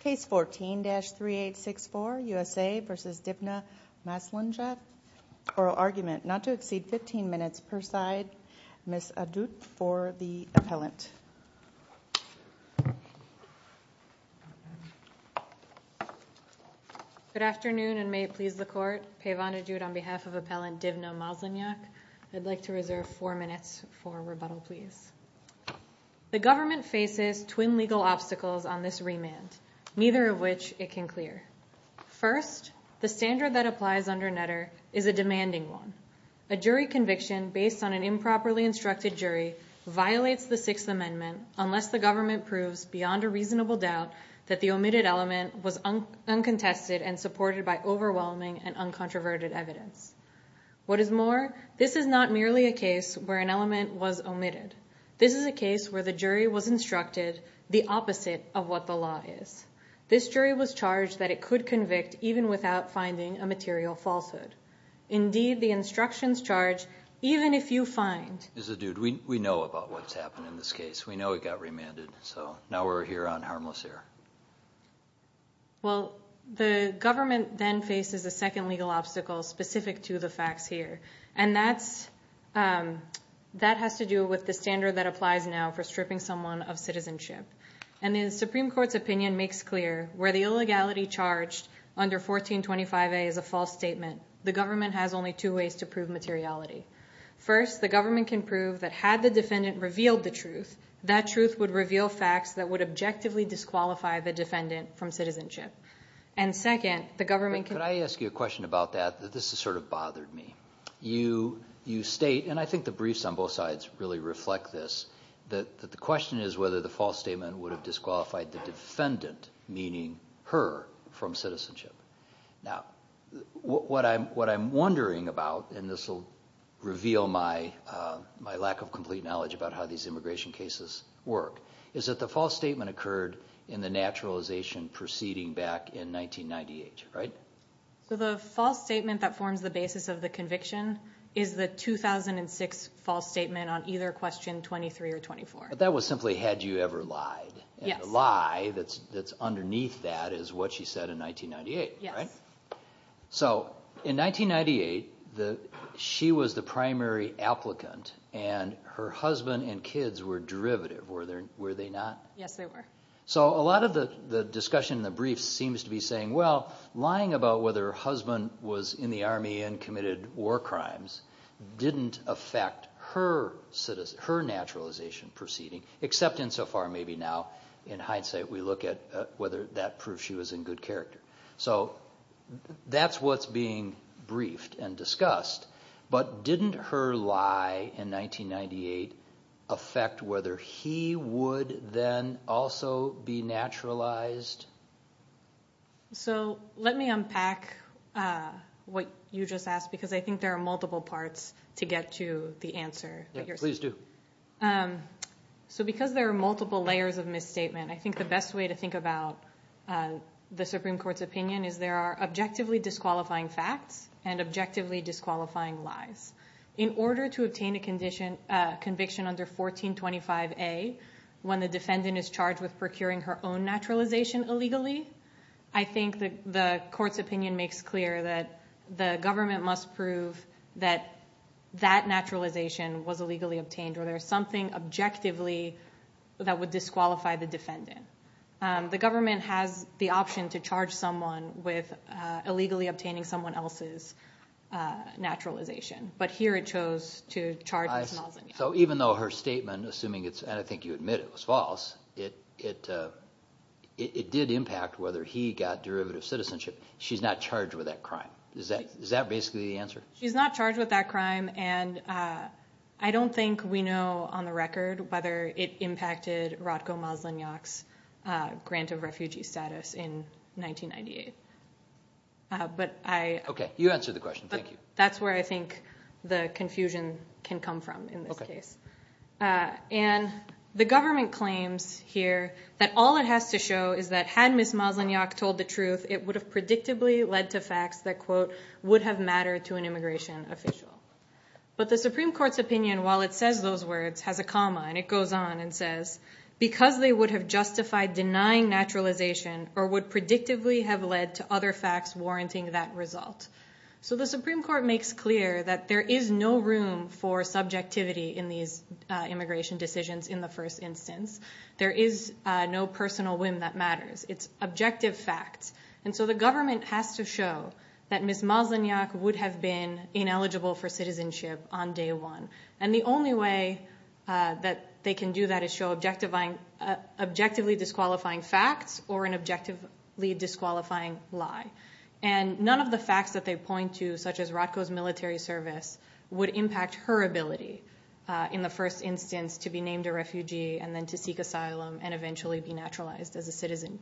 Case 14-3864 USA v. Divna Maslenjak. Oral argument not to exceed 15 minutes per side. Ms. Adut for the appellant. Good afternoon and may it please the court. Pavan Adut on behalf of Appellant Divna Maslenjak. I'd like to reserve four minutes for rebuttal please. The government faces twin legal obstacles on this remand, neither of which it can clear. First, the standard that applies under Netter is a demanding one. A jury conviction based on an improperly instructed jury violates the Sixth Amendment unless the government proves beyond a reasonable doubt that the omitted element was uncontested and supported by overwhelming and uncontroverted evidence. What is more, this is not merely a case where an element was omitted. This is a case where the jury was instructed the opposite of what the law is. This jury was charged that it could convict even without finding a material falsehood. Indeed, the instructions charge, even if you find... Ms. Adut, we know about what's happened in this case. We know it got remanded, so now we're here on harmless error. Well, the government then faces a second legal obstacle specific to the facts here and that has to do with the standard that applies now for stripping someone of citizenship. And the Supreme Court's opinion makes clear where the illegality charged under 1425a is a false statement, the government has only two ways to prove materiality. First, the government can prove that had the defendant revealed the truth, that truth would reveal facts that would objectively disqualify the defendant from citizenship. And second, the government... Could I ask you a question? You state, and I think the briefs on both sides really reflect this, that the question is whether the false statement would have disqualified the defendant, meaning her, from citizenship. Now, what I'm wondering about, and this will reveal my lack of complete knowledge about how these immigration cases work, is that the false statement occurred in the naturalization proceeding back in 1998, right? So the false statement that forms the basis of the conviction is the 2006 false statement on either question 23 or 24. But that was simply, had you ever lied? Yes. And the lie that's underneath that is what she said in 1998, right? So in 1998, she was the primary applicant and her husband and kids were derivative, were they not? Yes, they were. So a lot of the discussion in the briefs seems to be saying, well, lying about whether her crimes didn't affect her naturalization proceeding, except insofar maybe now, in hindsight, we look at whether that proves she was in good character. So that's what's being briefed and discussed, but didn't her lie in 1998 affect whether he would then also be naturalized? So let me unpack what you just asked, because I think there are multiple parts to get to the answer. Please do. So because there are multiple layers of misstatement, I think the best way to think about the Supreme Court's opinion is there are objectively disqualifying facts and objectively disqualifying lies. In order to obtain a conviction under 1425A, when the defendant is charged with procuring her own naturalization illegally, I think the government must prove that that naturalization was illegally obtained, or there's something objectively that would disqualify the defendant. The government has the option to charge someone with illegally obtaining someone else's naturalization, but here it chose to charge... So even though her statement, assuming it's, and I think you admit it was false, it did impact whether he got derivative citizenship, she's not charged with that crime. Is that basically the answer? She's not charged with that crime, and I don't think we know on the record whether it impacted Rodko Maslanyak's grant of refugee status in 1998. Okay, you answered the question. Thank you. That's where I think the confusion can come from in this case. And the government claims here that all it has to show is that had Ms. Maslanyak told the truth, it would have predictably led to facts that, quote, would have mattered to an immigration official. But the Supreme Court's opinion, while it says those words, has a comma, and it goes on and says, because they would have justified denying naturalization or would predictably have led to other facts warranting that result. So the Supreme Court makes clear that there is no room for subjectivity in these immigration decisions in the first instance. There is no personal whim that matters. It's objective facts. And so the government has to show that Ms. Maslanyak would have been ineligible for citizenship on day one. And the only way that they can do that is show objectively disqualifying facts or an objectively disqualifying lie. And none of the facts that they point to, such as Rodko's military service, would impact her ability in the first instance to be named a refugee and then to seek asylum and eventually be naturalized as a citizen.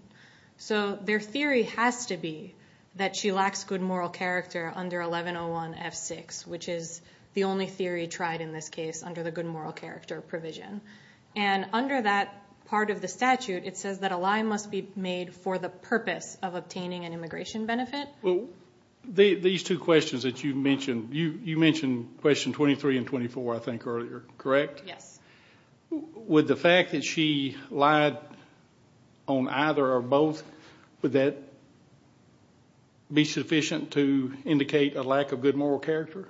So their theory has to be that she lacks good moral character under 1101 F6, which is the only theory tried in this case under the good moral character provision. And under that part of the statute, it says that a lie must be made for the purpose of obtaining an immigration benefit. These two questions that you mentioned, you mentioned question 23 and 24, I think, earlier, correct? Yes. Would the fact that she lied on either or both, would that be sufficient to indicate a lack of good moral character?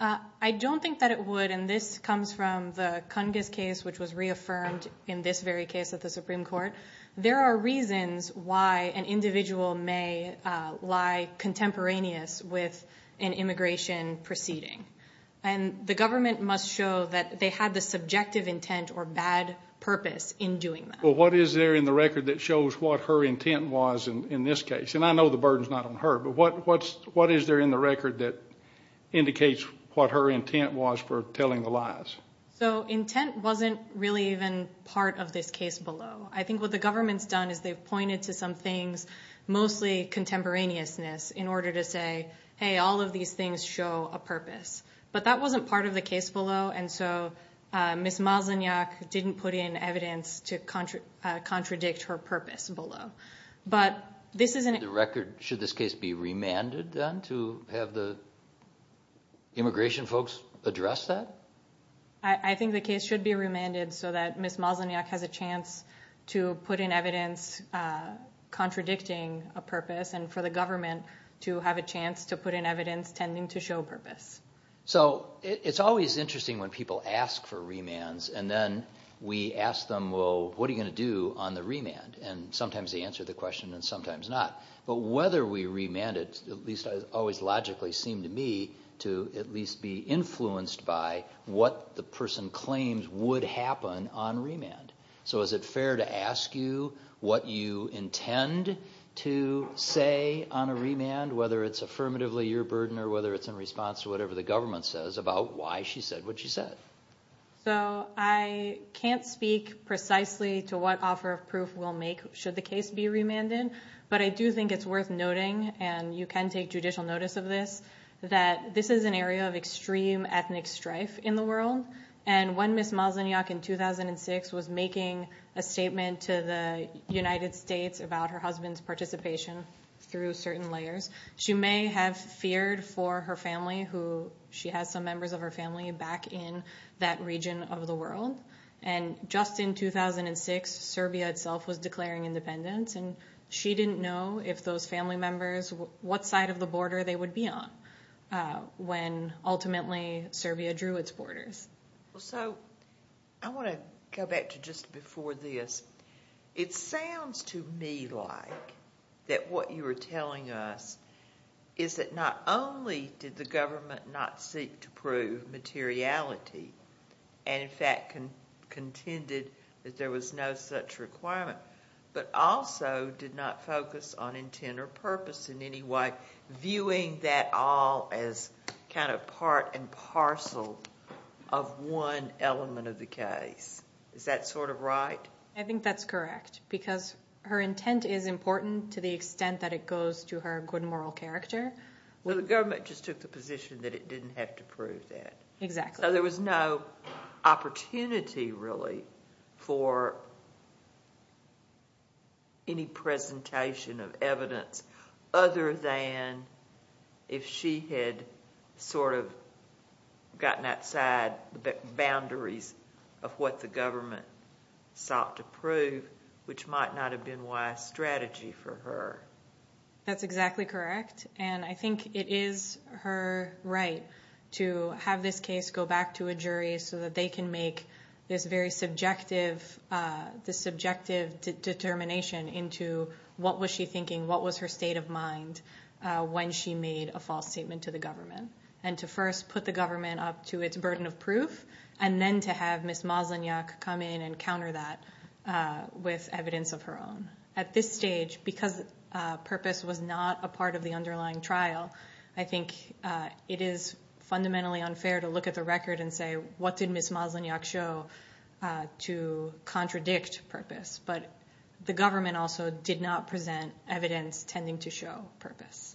I don't think that it would. And this comes from the Kungis case, which was reaffirmed in this very case at the Supreme Court. There are reasons why an immigrant can lie contemporaneous with an immigration proceeding. And the government must show that they had the subjective intent or bad purpose in doing that. Well, what is there in the record that shows what her intent was in this case? And I know the burden's not on her, but what is there in the record that indicates what her intent was for telling the lies? So intent wasn't really even part of this case below. I think what the government's done is they've pointed to some things, mostly contemporaneousness, in order to say, hey, all of these things show a purpose. But that wasn't part of the case below, and so Ms. Malzonyak didn't put in evidence to contradict her purpose below. But this isn't... The record, should this case be remanded then to have the immigration folks address that? I think the case should be contradicting a purpose and for the government to have a chance to put in evidence tending to show purpose. So it's always interesting when people ask for remands and then we ask them, well, what are you going to do on the remand? And sometimes they answer the question and sometimes not. But whether we remand it, at least always logically seemed to me, to at least be influenced by what the you intend to say on a remand, whether it's affirmatively your burden or whether it's in response to whatever the government says about why she said what she said. So I can't speak precisely to what offer of proof we'll make should the case be remanded, but I do think it's worth noting, and you can take judicial notice of this, that this is an area of extreme ethnic strife in the world. And when Ms. Maslanyak in 2006 was making a statement to the United States about her husband's participation through certain layers, she may have feared for her family, who she has some members of her family back in that region of the world. And just in 2006, Serbia itself was declaring independence and she didn't know if those family members, what side of the border they would be on when ultimately Serbia drew its borders. So I want to go back to just before this. It sounds to me like that what you were telling us is that not only did the government not seek to prove materiality and in fact contended that there was no such requirement, but also did not focus on intent or purpose in any way, viewing that all as kind of part and parcel of one element of the case. Is that sort of right? I think that's correct because her intent is important to the extent that it goes to her good moral character. Well the government just took the position that it didn't have to prove that. Exactly. So there was no opportunity really for any presentation of evidence other than if she had sort of gotten outside the boundaries of what the government sought to prove, which might not have been wise strategy for her. That's exactly correct and I think it is her right to have this case go back to a jury so that they can make this very subjective determination into what was she thinking, what was her state of mind when she made a false statement to the government. And to first put the government up to its burden of proof and then to have Ms. Maslanyak come in and counter that with evidence of her own. At this stage, because purpose was not a public, it is fundamentally unfair to look at the record and say, what did Ms. Maslanyak show to contradict purpose? But the government also did not present evidence tending to show purpose.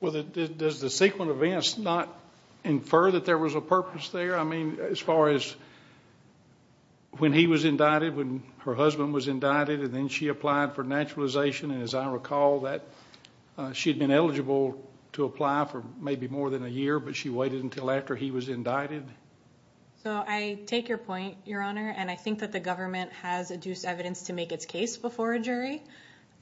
Well, does the sequence of events not infer that there was a purpose there? I mean, as far as when he was indicted, when her husband was indicted and then she applied for naturalization and as I understand, she was ineligible to apply for maybe more than a year, but she waited until after he was indicted? So I take your point, Your Honor, and I think that the government has adduced evidence to make its case before a jury,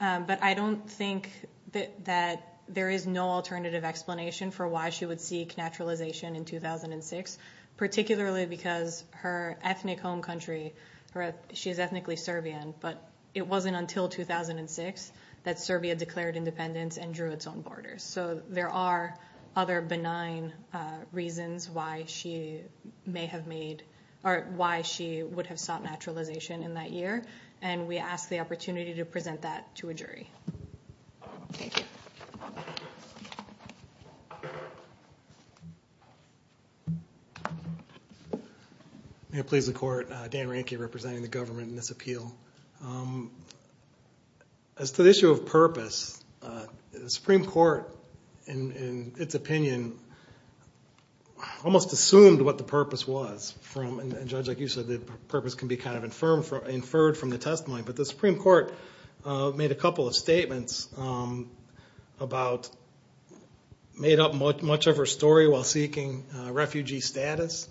but I don't think that there is no alternative explanation for why she would seek naturalization in 2006, particularly because her ethnic home country, she is ethnically Serbian, but it wasn't until 2006 that Serbia declared independence and drew its own borders. So there are other benign reasons why she may have made, or why she would have sought naturalization in that year, and we ask the opportunity to present that to a jury. May it please the Court, Dan Rehnke representing the government in this Supreme Court, in its opinion, almost assumed what the purpose was from, and Judge, like you said, the purpose can be kind of inferred from the testimony, but the Supreme Court made a couple of statements about, made up much of her story while seeking refugee status.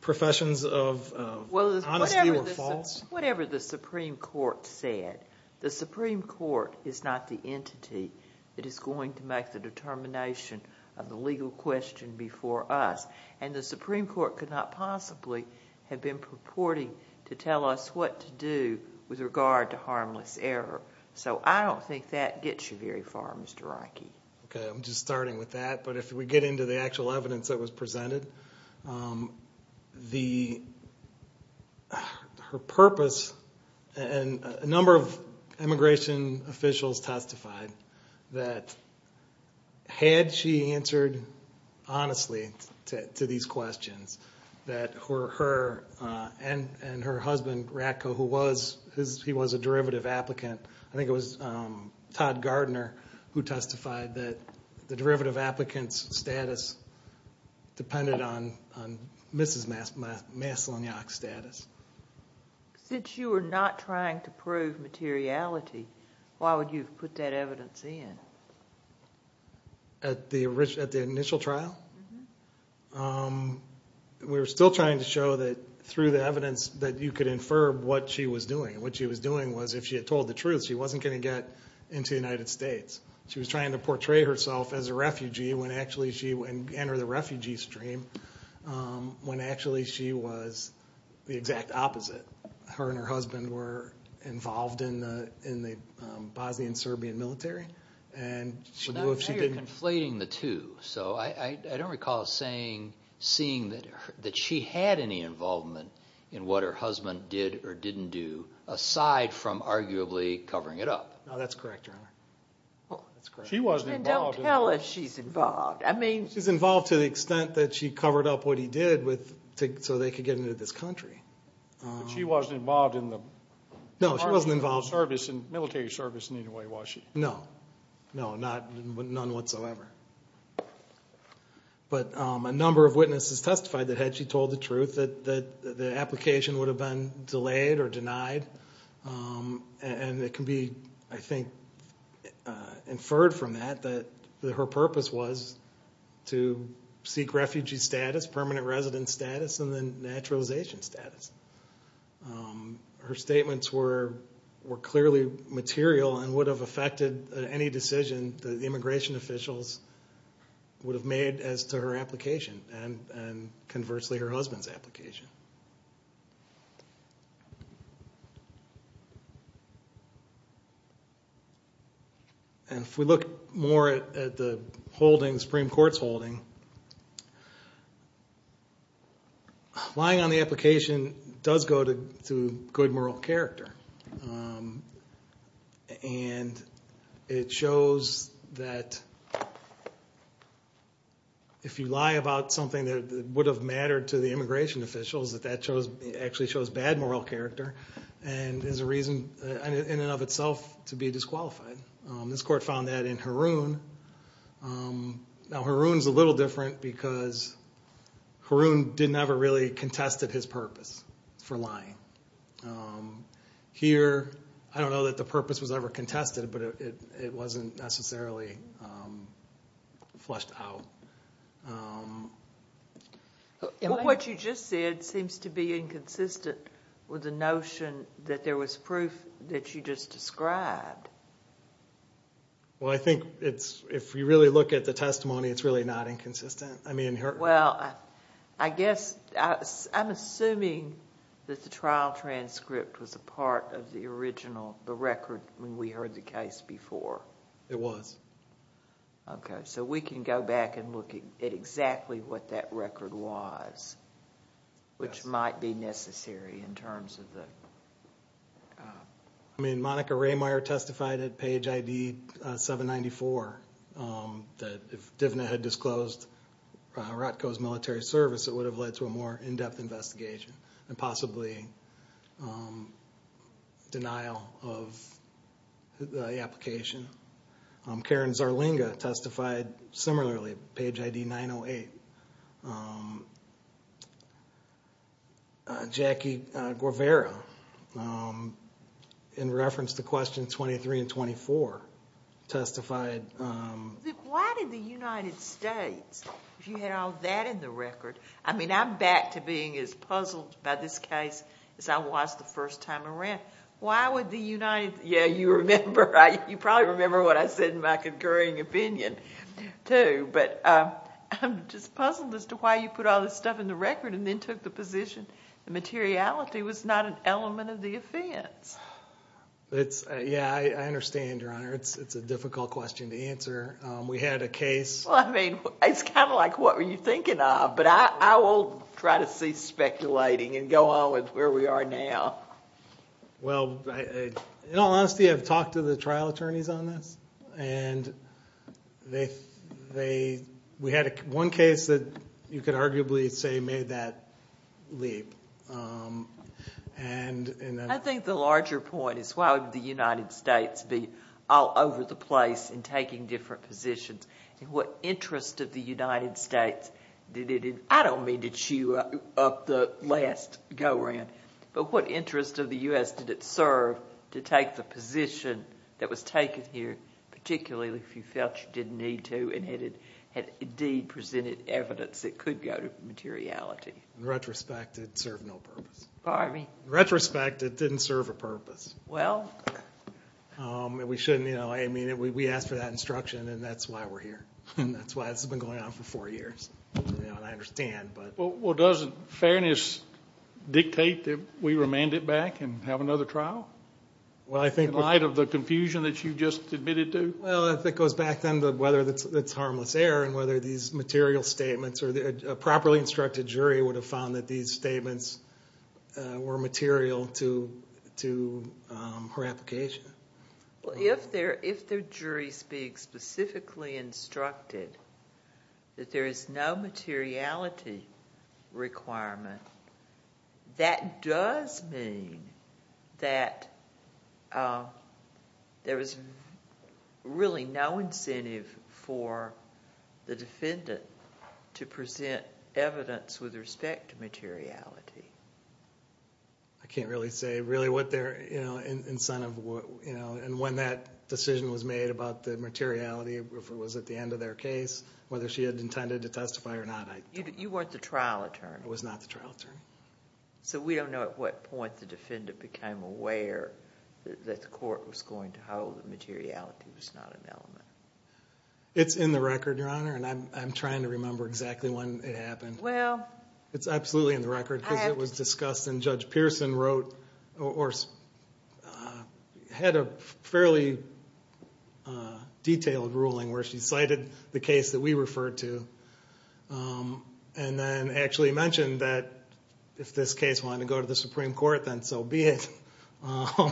Professions of honesty were false. Whatever the Supreme Court said, the Supreme Court is not the entity that is going to make the determination of the legal question before us, and the Supreme Court could not possibly have been purporting to tell us what to do with regard to harmless error. So I don't think that gets you very far, Mr. Rehnke. Okay, I'm just starting with that, but if we get into the actual evidence that was the purpose, and a number of immigration officials testified that had she answered honestly to these questions, that her, and her husband Ratko, who was, he was a derivative applicant, I think it was Todd Gardner who testified that the Since you were not trying to prove materiality, why would you have put that evidence in? At the initial trial? We were still trying to show that through the evidence that you could infer what she was doing, and what she was doing was, if she had told the truth, she wasn't going to get into the United States. She was trying to portray herself as a refugee when actually she, and enter the refugee stream, when actually she was the exact opposite. Her and her husband were involved in the Bosnian-Serbian military, and she knew if she didn't... Now you're conflating the two, so I don't recall seeing that she had any involvement in what her husband did or didn't do, aside from arguably covering it up. No, that's correct, Your Honor. She wasn't involved. Then don't tell us she's involved. I mean... She's involved to the extent that she covered up what he did so they could get into this country. But she wasn't involved in the service, military service in any way, was she? No, no, none whatsoever. But a number of witnesses testified that had she told the truth, that the application would have been delayed or denied, and it can be, I think, inferred from that that her purpose was to seek refugee status, permanent resident status, and then naturalization status. Her statements were clearly material and would have affected any decision that the immigration officials would have made as to her application, and conversely her husband's application. And if we look more at the holding, the Supreme Court's holding, lying on the application does go to good moral character, and it shows that if you lie about something that would have mattered to the immigration officials, that that actually shows bad moral character and is a reason in and of itself to be disqualified. This court found that in Haroon. Now, Haroon's a little different because Haroon didn't ever really contested his purpose for lying. Here, I don't know that the What you just said seems to be inconsistent with the notion that there was proof that you just described. Well, I think it's, if you really look at the testimony, it's really not inconsistent. Well, I guess, I'm assuming that the trial transcript was a part of the original, the record, when we heard the case before. It was. Okay, so we can go back and look at exactly what that record was, which might be necessary in terms of the I mean, Monica Raymeier testified at page ID 794 that if Divna had disclosed Rotco's military service, it would have led to a more in-depth investigation, and possibly denial of the application. Karen Zarlinga testified similarly, page ID 908. Jackie Guevara, in reference to questions 23 and 24, testified Why did the United States, if you had all that in the record, I mean, I'm back to being as puzzled by this case as I was the first time around. Why would the United, yeah, you remember, you probably remember what I said in my concurring opinion, too, but I'm just puzzled as to why you put all this stuff in the record and then took the position the materiality was not an element of the offense. Yeah, I understand, Your Honor, it's a difficult question to answer. We had a case Well, I mean, it's kind of like what were you thinking of, but I will try to see speculating and go on with where we are now. Well, in all honesty, I've talked to the trial attorneys on this, and they, we had one case that you could arguably say made that leap, and I think the larger point is why would the United States be all over the place in taking different positions, and what interest of the United States did it, I don't mean to chew up the last go around, but what interest of the U.S. did it serve to take the position that was taken here, particularly if you felt you didn't need to and had indeed presented evidence that could go to materiality. In retrospect, it served no purpose. Pardon me? In retrospect, it didn't serve a purpose. Well... We shouldn't, you know, I mean, we asked for that instruction, and that's why we're here. And that's why this has been going on for four years. You know, and I understand, but... Well, doesn't fairness dictate that we remand it back and have another trial? Well, I think... In light of the confusion that you just admitted to? Well, I think it goes back then to whether it's harmless error and whether these material statements, or a properly instructed jury would have found that these statements were material to her application. Well, if the jury speaks specifically instructed that there is no materiality requirement, that does mean that there is really no incentive for the defendant to present evidence with respect to materiality. I can't really say really what their incentive, you know, and when that decision was made about the materiality, if it was at the end of their case, whether she had intended to testify or not, I don't know. You weren't the trial attorney. I was not the trial attorney. So we don't know at what point the defendant became aware that the court was going to hold that materiality was not an element. It's in the record, Your Honor, and I'm trying to remember exactly when it happened. Well... It's absolutely in the record because it was discussed and Judge Pearson wrote, or had a fairly detailed ruling where she cited the case that we referred to and then actually mentioned that if this case wanted to go to the Supreme Court, then so be it. But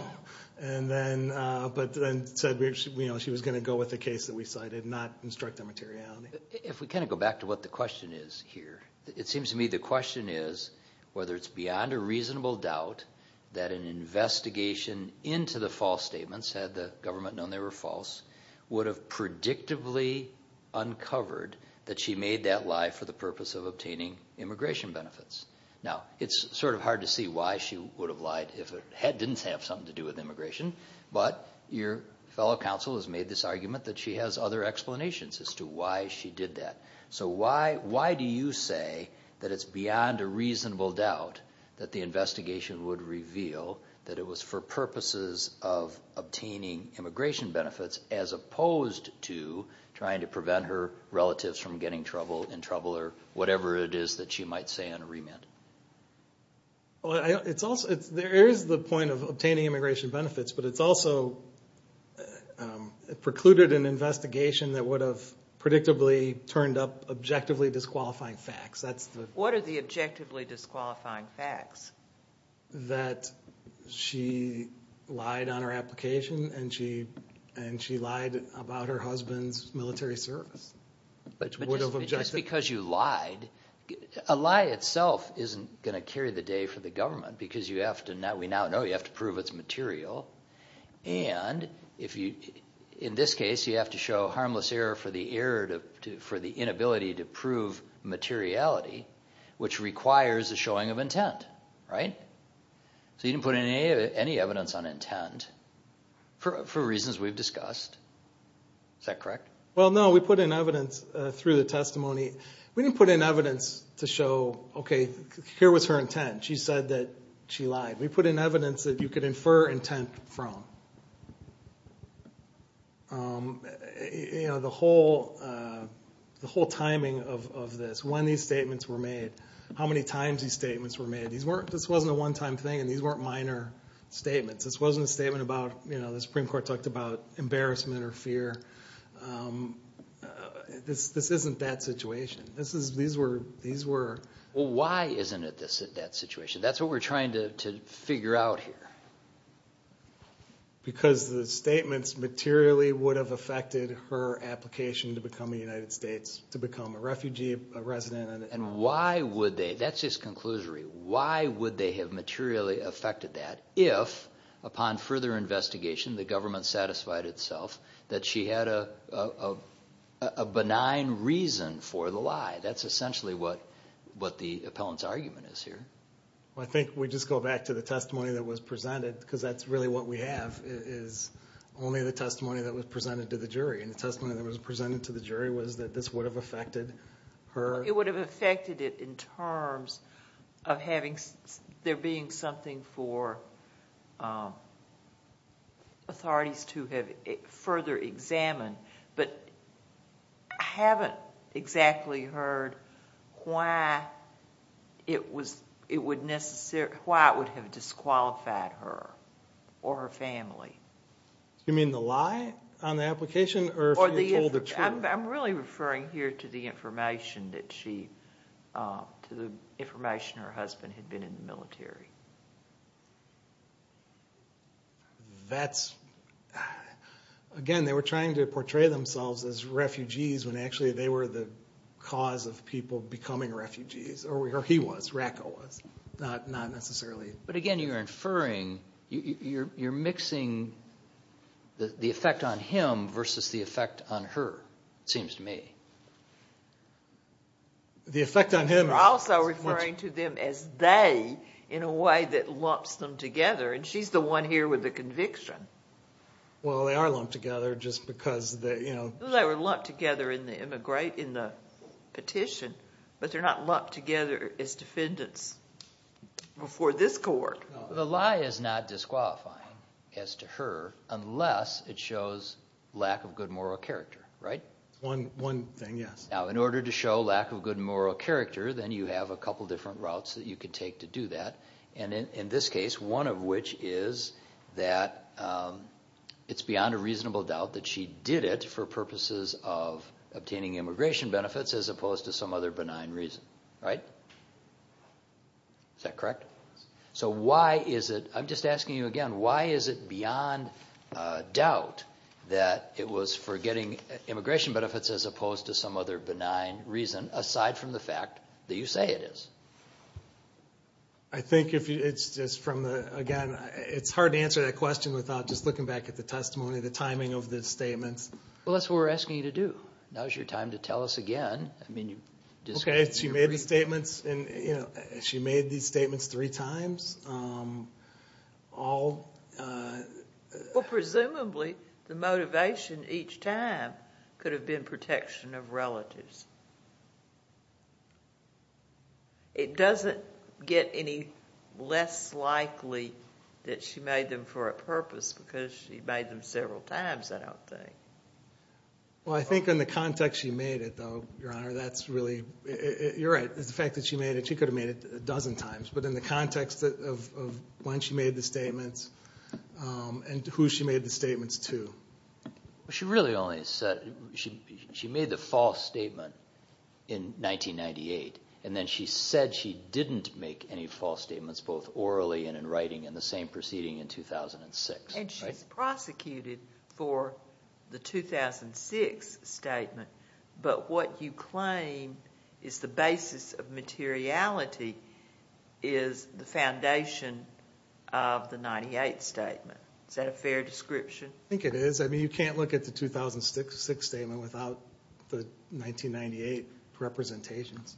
then said, you know, she was going to go with the case that we cited, not instructed materiality. If we kind of go back to what the question is here, it seems to me the question is whether it's beyond a reasonable doubt that an investigation into the false statements, had the government known they were false, would have predictably uncovered that she made that lie for the purpose of obtaining immigration benefits. Now, it's sort of hard to see why she would have lied if it didn't have something to do with immigration, but your fellow counsel has made this argument that she has other explanations as to why she did that. So why do you say that it's beyond a reasonable doubt that the investigation would reveal that it was for purposes of obtaining immigration benefits, as opposed to trying to prevent her relatives from getting in trouble, or whatever it is that she might say on a remand? There is the point of obtaining immigration benefits, but it's also precluded an investigation that would have predictably turned up objectively disqualifying facts. What are the objectively disqualifying facts? That she lied on her application, and she lied about her husband's military service. But just because you lied, a lie itself isn't going to carry the day for the government, because we now know you have to prove it's material, and in this case you have to show harmless error for the inability to prove materiality, which requires a showing of intent, right? So you didn't put in any evidence on intent, for reasons we've discussed. Is that correct? Well, no, we put in evidence through the testimony. We didn't put in evidence to show, okay, here was her intent. She said that she lied. We put in evidence that you could infer intent from. The whole timing of this, when these statements were made, how many times these statements were made, this wasn't a one-time thing, and these weren't minor statements. This wasn't a statement about, you know, the Supreme Court talked about embarrassment or fear. This isn't that situation. Well, why isn't it that situation? That's what we're trying to figure out here. Because the statements materially would have affected her application to become a United States, to become a refugee, a resident. And why would they? That's just conclusory. Why would they have materially affected that if, upon further investigation, the government satisfied itself that she had a benign reason for the lie? That's essentially what the appellant's argument is here. Well, I think we just go back to the testimony that was presented, because that's really what we have is only the testimony that was presented to the jury. And the testimony that was presented to the jury was that this would have affected her. It would have affected it in terms of there being something for authorities to have further examined. But I haven't exactly heard why it would have disqualified her or her family. You mean the lie on the application, or if you're told the truth? I'm really referring here to the information that she, to the information her husband had been in the military. That's, again, they were trying to portray themselves as refugees when actually they were the cause of people becoming refugees. Or he was. Ratko was. Not necessarily. But again, you're inferring, you're mixing the effect on him versus the effect on her, it seems to me. The effect on him. You're also referring to them as they in a way that lumps them together. And she's the one here with the conviction. Well, they are lumped together just because they, you know. They were lumped together in the petition, but they're not lumped together as defendants. Before this court. The lie is not disqualifying as to her unless it shows lack of good moral character, right? One thing, yes. Now, in order to show lack of good moral character, then you have a couple different routes that you can take to do that. And in this case, one of which is that it's beyond a reasonable doubt that she did it for purposes of obtaining immigration benefits as opposed to some other benign reason, right? Is that correct? So why is it, I'm just asking you again, why is it beyond doubt that it was for getting immigration benefits as opposed to some other benign reason aside from the fact that you say it is? I think it's just from the, again, it's hard to answer that question without just looking back at the testimony, the timing of the statements. Well, that's what we're asking you to do. Now is your time to tell us again. Okay, so you made the statements, and she made these statements three times. Well, presumably, the motivation each time could have been protection of relatives. It doesn't get any less likely that she made them for a purpose because she made them several times, I don't think. Well, I think in the context she made it, though, Your Honor, that's really, you're right, the fact that she made it, she could have made it a dozen times, but in the context of when she made the statements and who she made the statements to. She really only said, she made the false statement in 1998, and then she said she didn't make any false statements both orally and in writing in the same proceeding in 2006. And she's prosecuted for the 2006 statement, but what you claim is the basis of materiality is the foundation of the 1998 statement. Is that a fair description? I think it is. I mean, you can't look at the 2006 statement without the 1998 representations.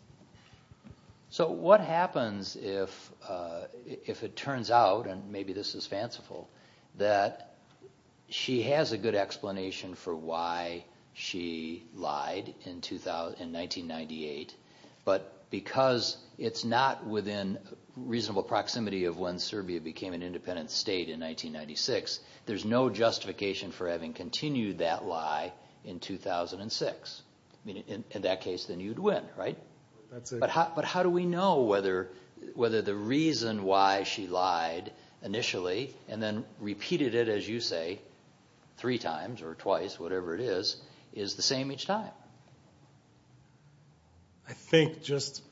So what happens if it turns out, and maybe this is fanciful, that she has a good explanation for why she lied in 1998, but because it's not within reasonable proximity of when Serbia became an independent state in 1996, there's no justification for having continued that lie in 2006. I mean, in that case, then you'd win, right? But how do we know whether the reason why she lied initially and then repeated it, as you say, three times or twice, whatever it is, is the same each time? I think just,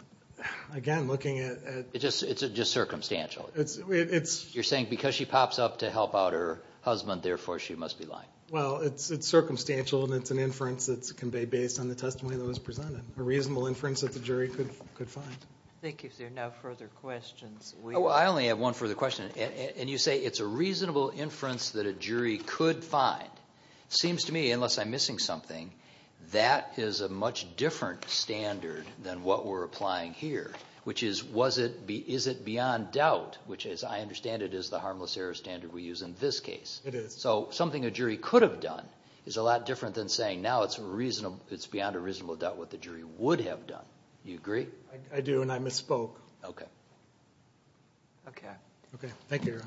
again, looking at... It's just circumstantial. You're saying because she pops up to help out her husband, therefore she must be lying. Well, it's circumstantial, and it's an inference that's conveyed based on the testimony that was presented. A reasonable inference that the jury could find. Thank you, sir. No further questions. I only have one further question. And you say it's a reasonable inference that a jury could find. It seems to me, unless I'm missing something, that is a much different standard than what we're applying here, which is, is it beyond doubt, which, as I understand it, is the harmless error standard we use in this case. It is. So something a jury could have done is a lot different than saying, now it's beyond a reasonable doubt what the jury would have done. Do you agree? I do, and I misspoke. Okay. Okay. Okay. Thank you, Aaron.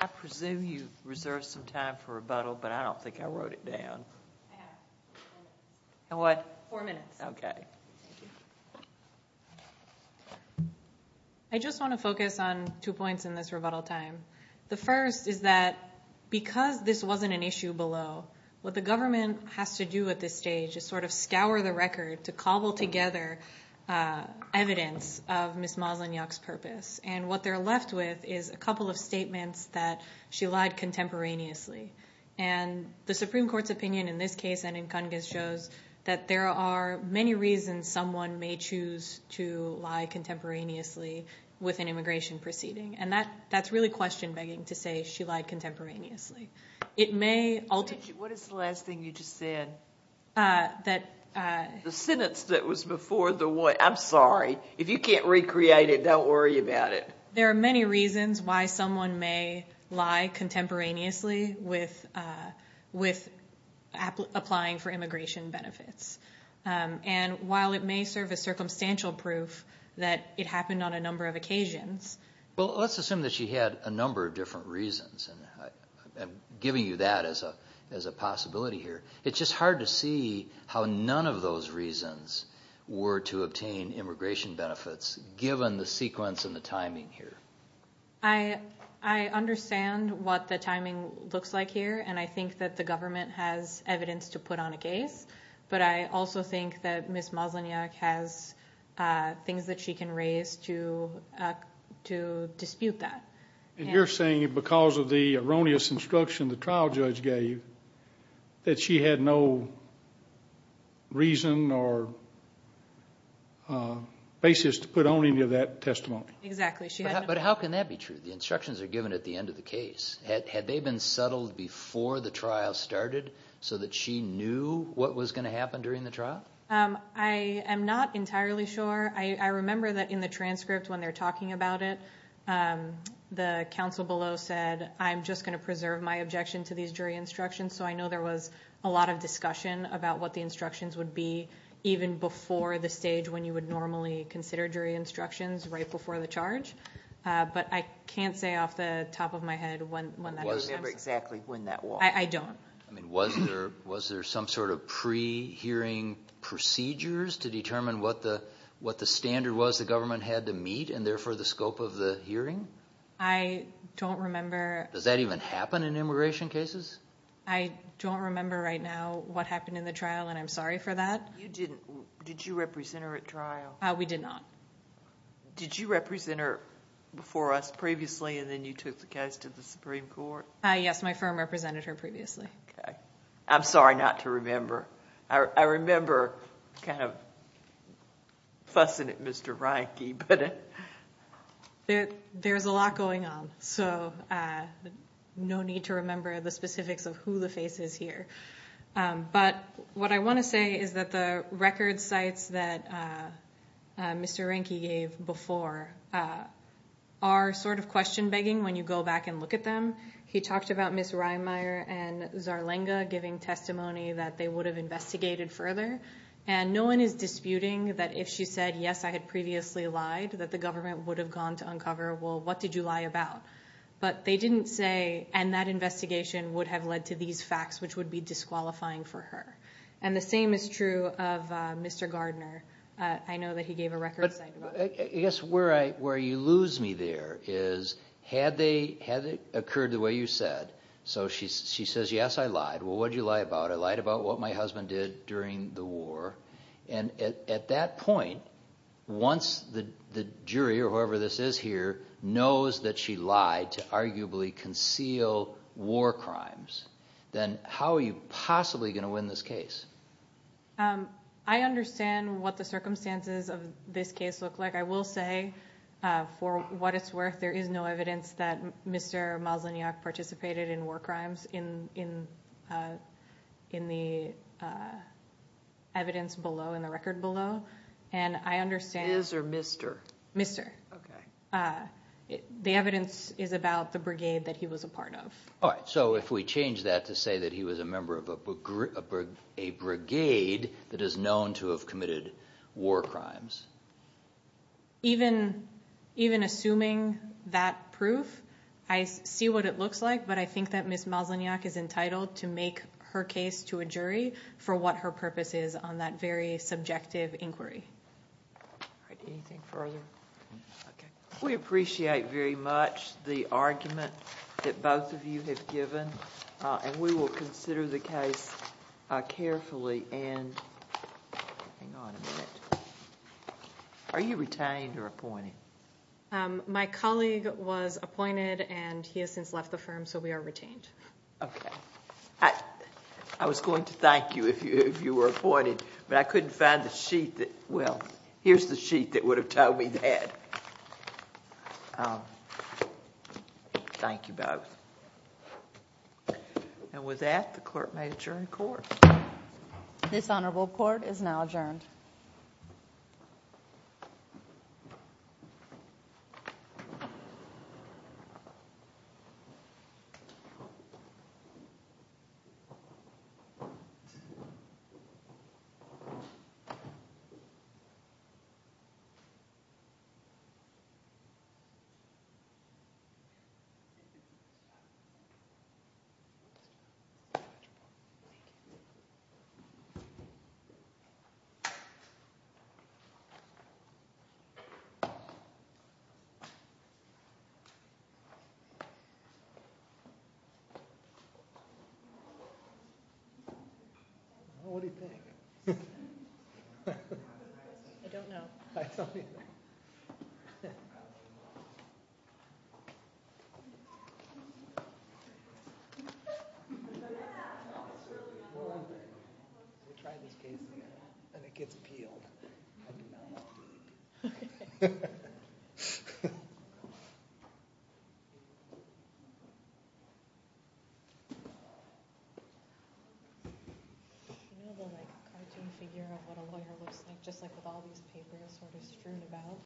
I presume you reserved some time for rebuttal, but I don't think I wrote it down. I have four minutes. And what? Four minutes. Okay. I just want to focus on two points in this rebuttal time. The first is that because this wasn't an issue below, what the government has to do at this stage is sort of scour the record to cobble together evidence of Ms. Moslanyak's purpose. And what they're left with is a couple of statements that she lied contemporaneously. And the Supreme Court's opinion in this case and in Kungis shows that there are many reasons someone may choose to lie contemporaneously with an immigration proceeding. And that's really question-begging to say she lied contemporaneously. What is the last thing you just said? The sentence that was before the what. I'm sorry. If you can't recreate it, don't worry about it. There are many reasons why someone may lie contemporaneously with applying for immigration benefits. And while it may serve as circumstantial proof that it happened on a number of occasions. Well, let's assume that she had a number of different reasons, and I'm giving you that as a possibility here. It's just hard to see how none of those reasons were to obtain immigration benefits, given the sequence and the timing here. I understand what the timing looks like here, and I think that the government has evidence to put on a case. But I also think that Ms. Moslanyak has things that she can raise to dispute that. And you're saying because of the erroneous instruction the trial judge gave that she had no reason or basis to put on any of that testimony. Exactly. But how can that be true? The instructions are given at the end of the case. Had they been settled before the trial started, so that she knew what was going to happen during the trial? I am not entirely sure. I remember that in the transcript when they're talking about it, the counsel below said, I'm just going to preserve my objection to these jury instructions. So I know there was a lot of discussion about what the instructions would be, even before the stage when you would normally consider jury instructions, right before the charge. But I can't say off the top of my head when that was. Do you remember exactly when that was? I don't. Was there some sort of pre-hearing procedures to determine what the standard was the government had to meet, and therefore the scope of the hearing? I don't remember. Does that even happen in immigration cases? I don't remember right now what happened in the trial, and I'm sorry for that. Did you represent her at trial? We did not. Did you represent her before us previously, and then you took the case to the Supreme Court? Yes, my firm represented her previously. Okay. I'm sorry not to remember. I remember kind of fussing at Mr. Reinke. There's a lot going on, so no need to remember the specifics of who the face is here. But what I want to say is that the record sites that Mr. Reinke gave before are sort of question-begging when you go back and look at them. He talked about Ms. Reimeyer and Zarlenga giving testimony that they would have investigated further, and no one is disputing that if she said, yes, I had previously lied, that the government would have gone to uncover, well, what did you lie about? But they didn't say, and that investigation would have led to these facts, which would be disqualifying for her. And the same is true of Mr. Gardner. I know that he gave a record site. I guess where you lose me there is had it occurred the way you said, so she says, yes, I lied. Well, what did you lie about? I lied about what my husband did during the war. And at that point, once the jury or whoever this is here knows that she lied to arguably conceal war crimes, then how are you possibly going to win this case? I understand what the circumstances of this case look like. I will say, for what it's worth, there is no evidence that Mr. Malzahniak participated in war crimes in the evidence below, in the record below. And I understand. His or Mr.? Mr. Okay. The evidence is about the brigade that he was a part of. All right. So if we change that to say that he was a member of a brigade that is known to have committed war crimes. Even assuming that proof, I see what it looks like, but I think that Ms. Malzahniak is entitled to make her case to a jury for what her purpose is on that very subjective inquiry. All right. Anything further? Okay. We appreciate very much the argument that both of you have given, and we will consider the case carefully. And hang on a minute. Are you retained or appointed? My colleague was appointed, and he has since left the firm, so we are retained. Okay. I was going to thank you if you were appointed, but I couldn't find the sheet that, well, here's the sheet that would have told me that. Thank you both. And with that, the court may adjourn the court. This honorable court is now adjourned. Thank you. Thank you. Well, what do you think? I don't know. I can't figure out what a lawyer looks like, just like with all these papers sort of strewn about.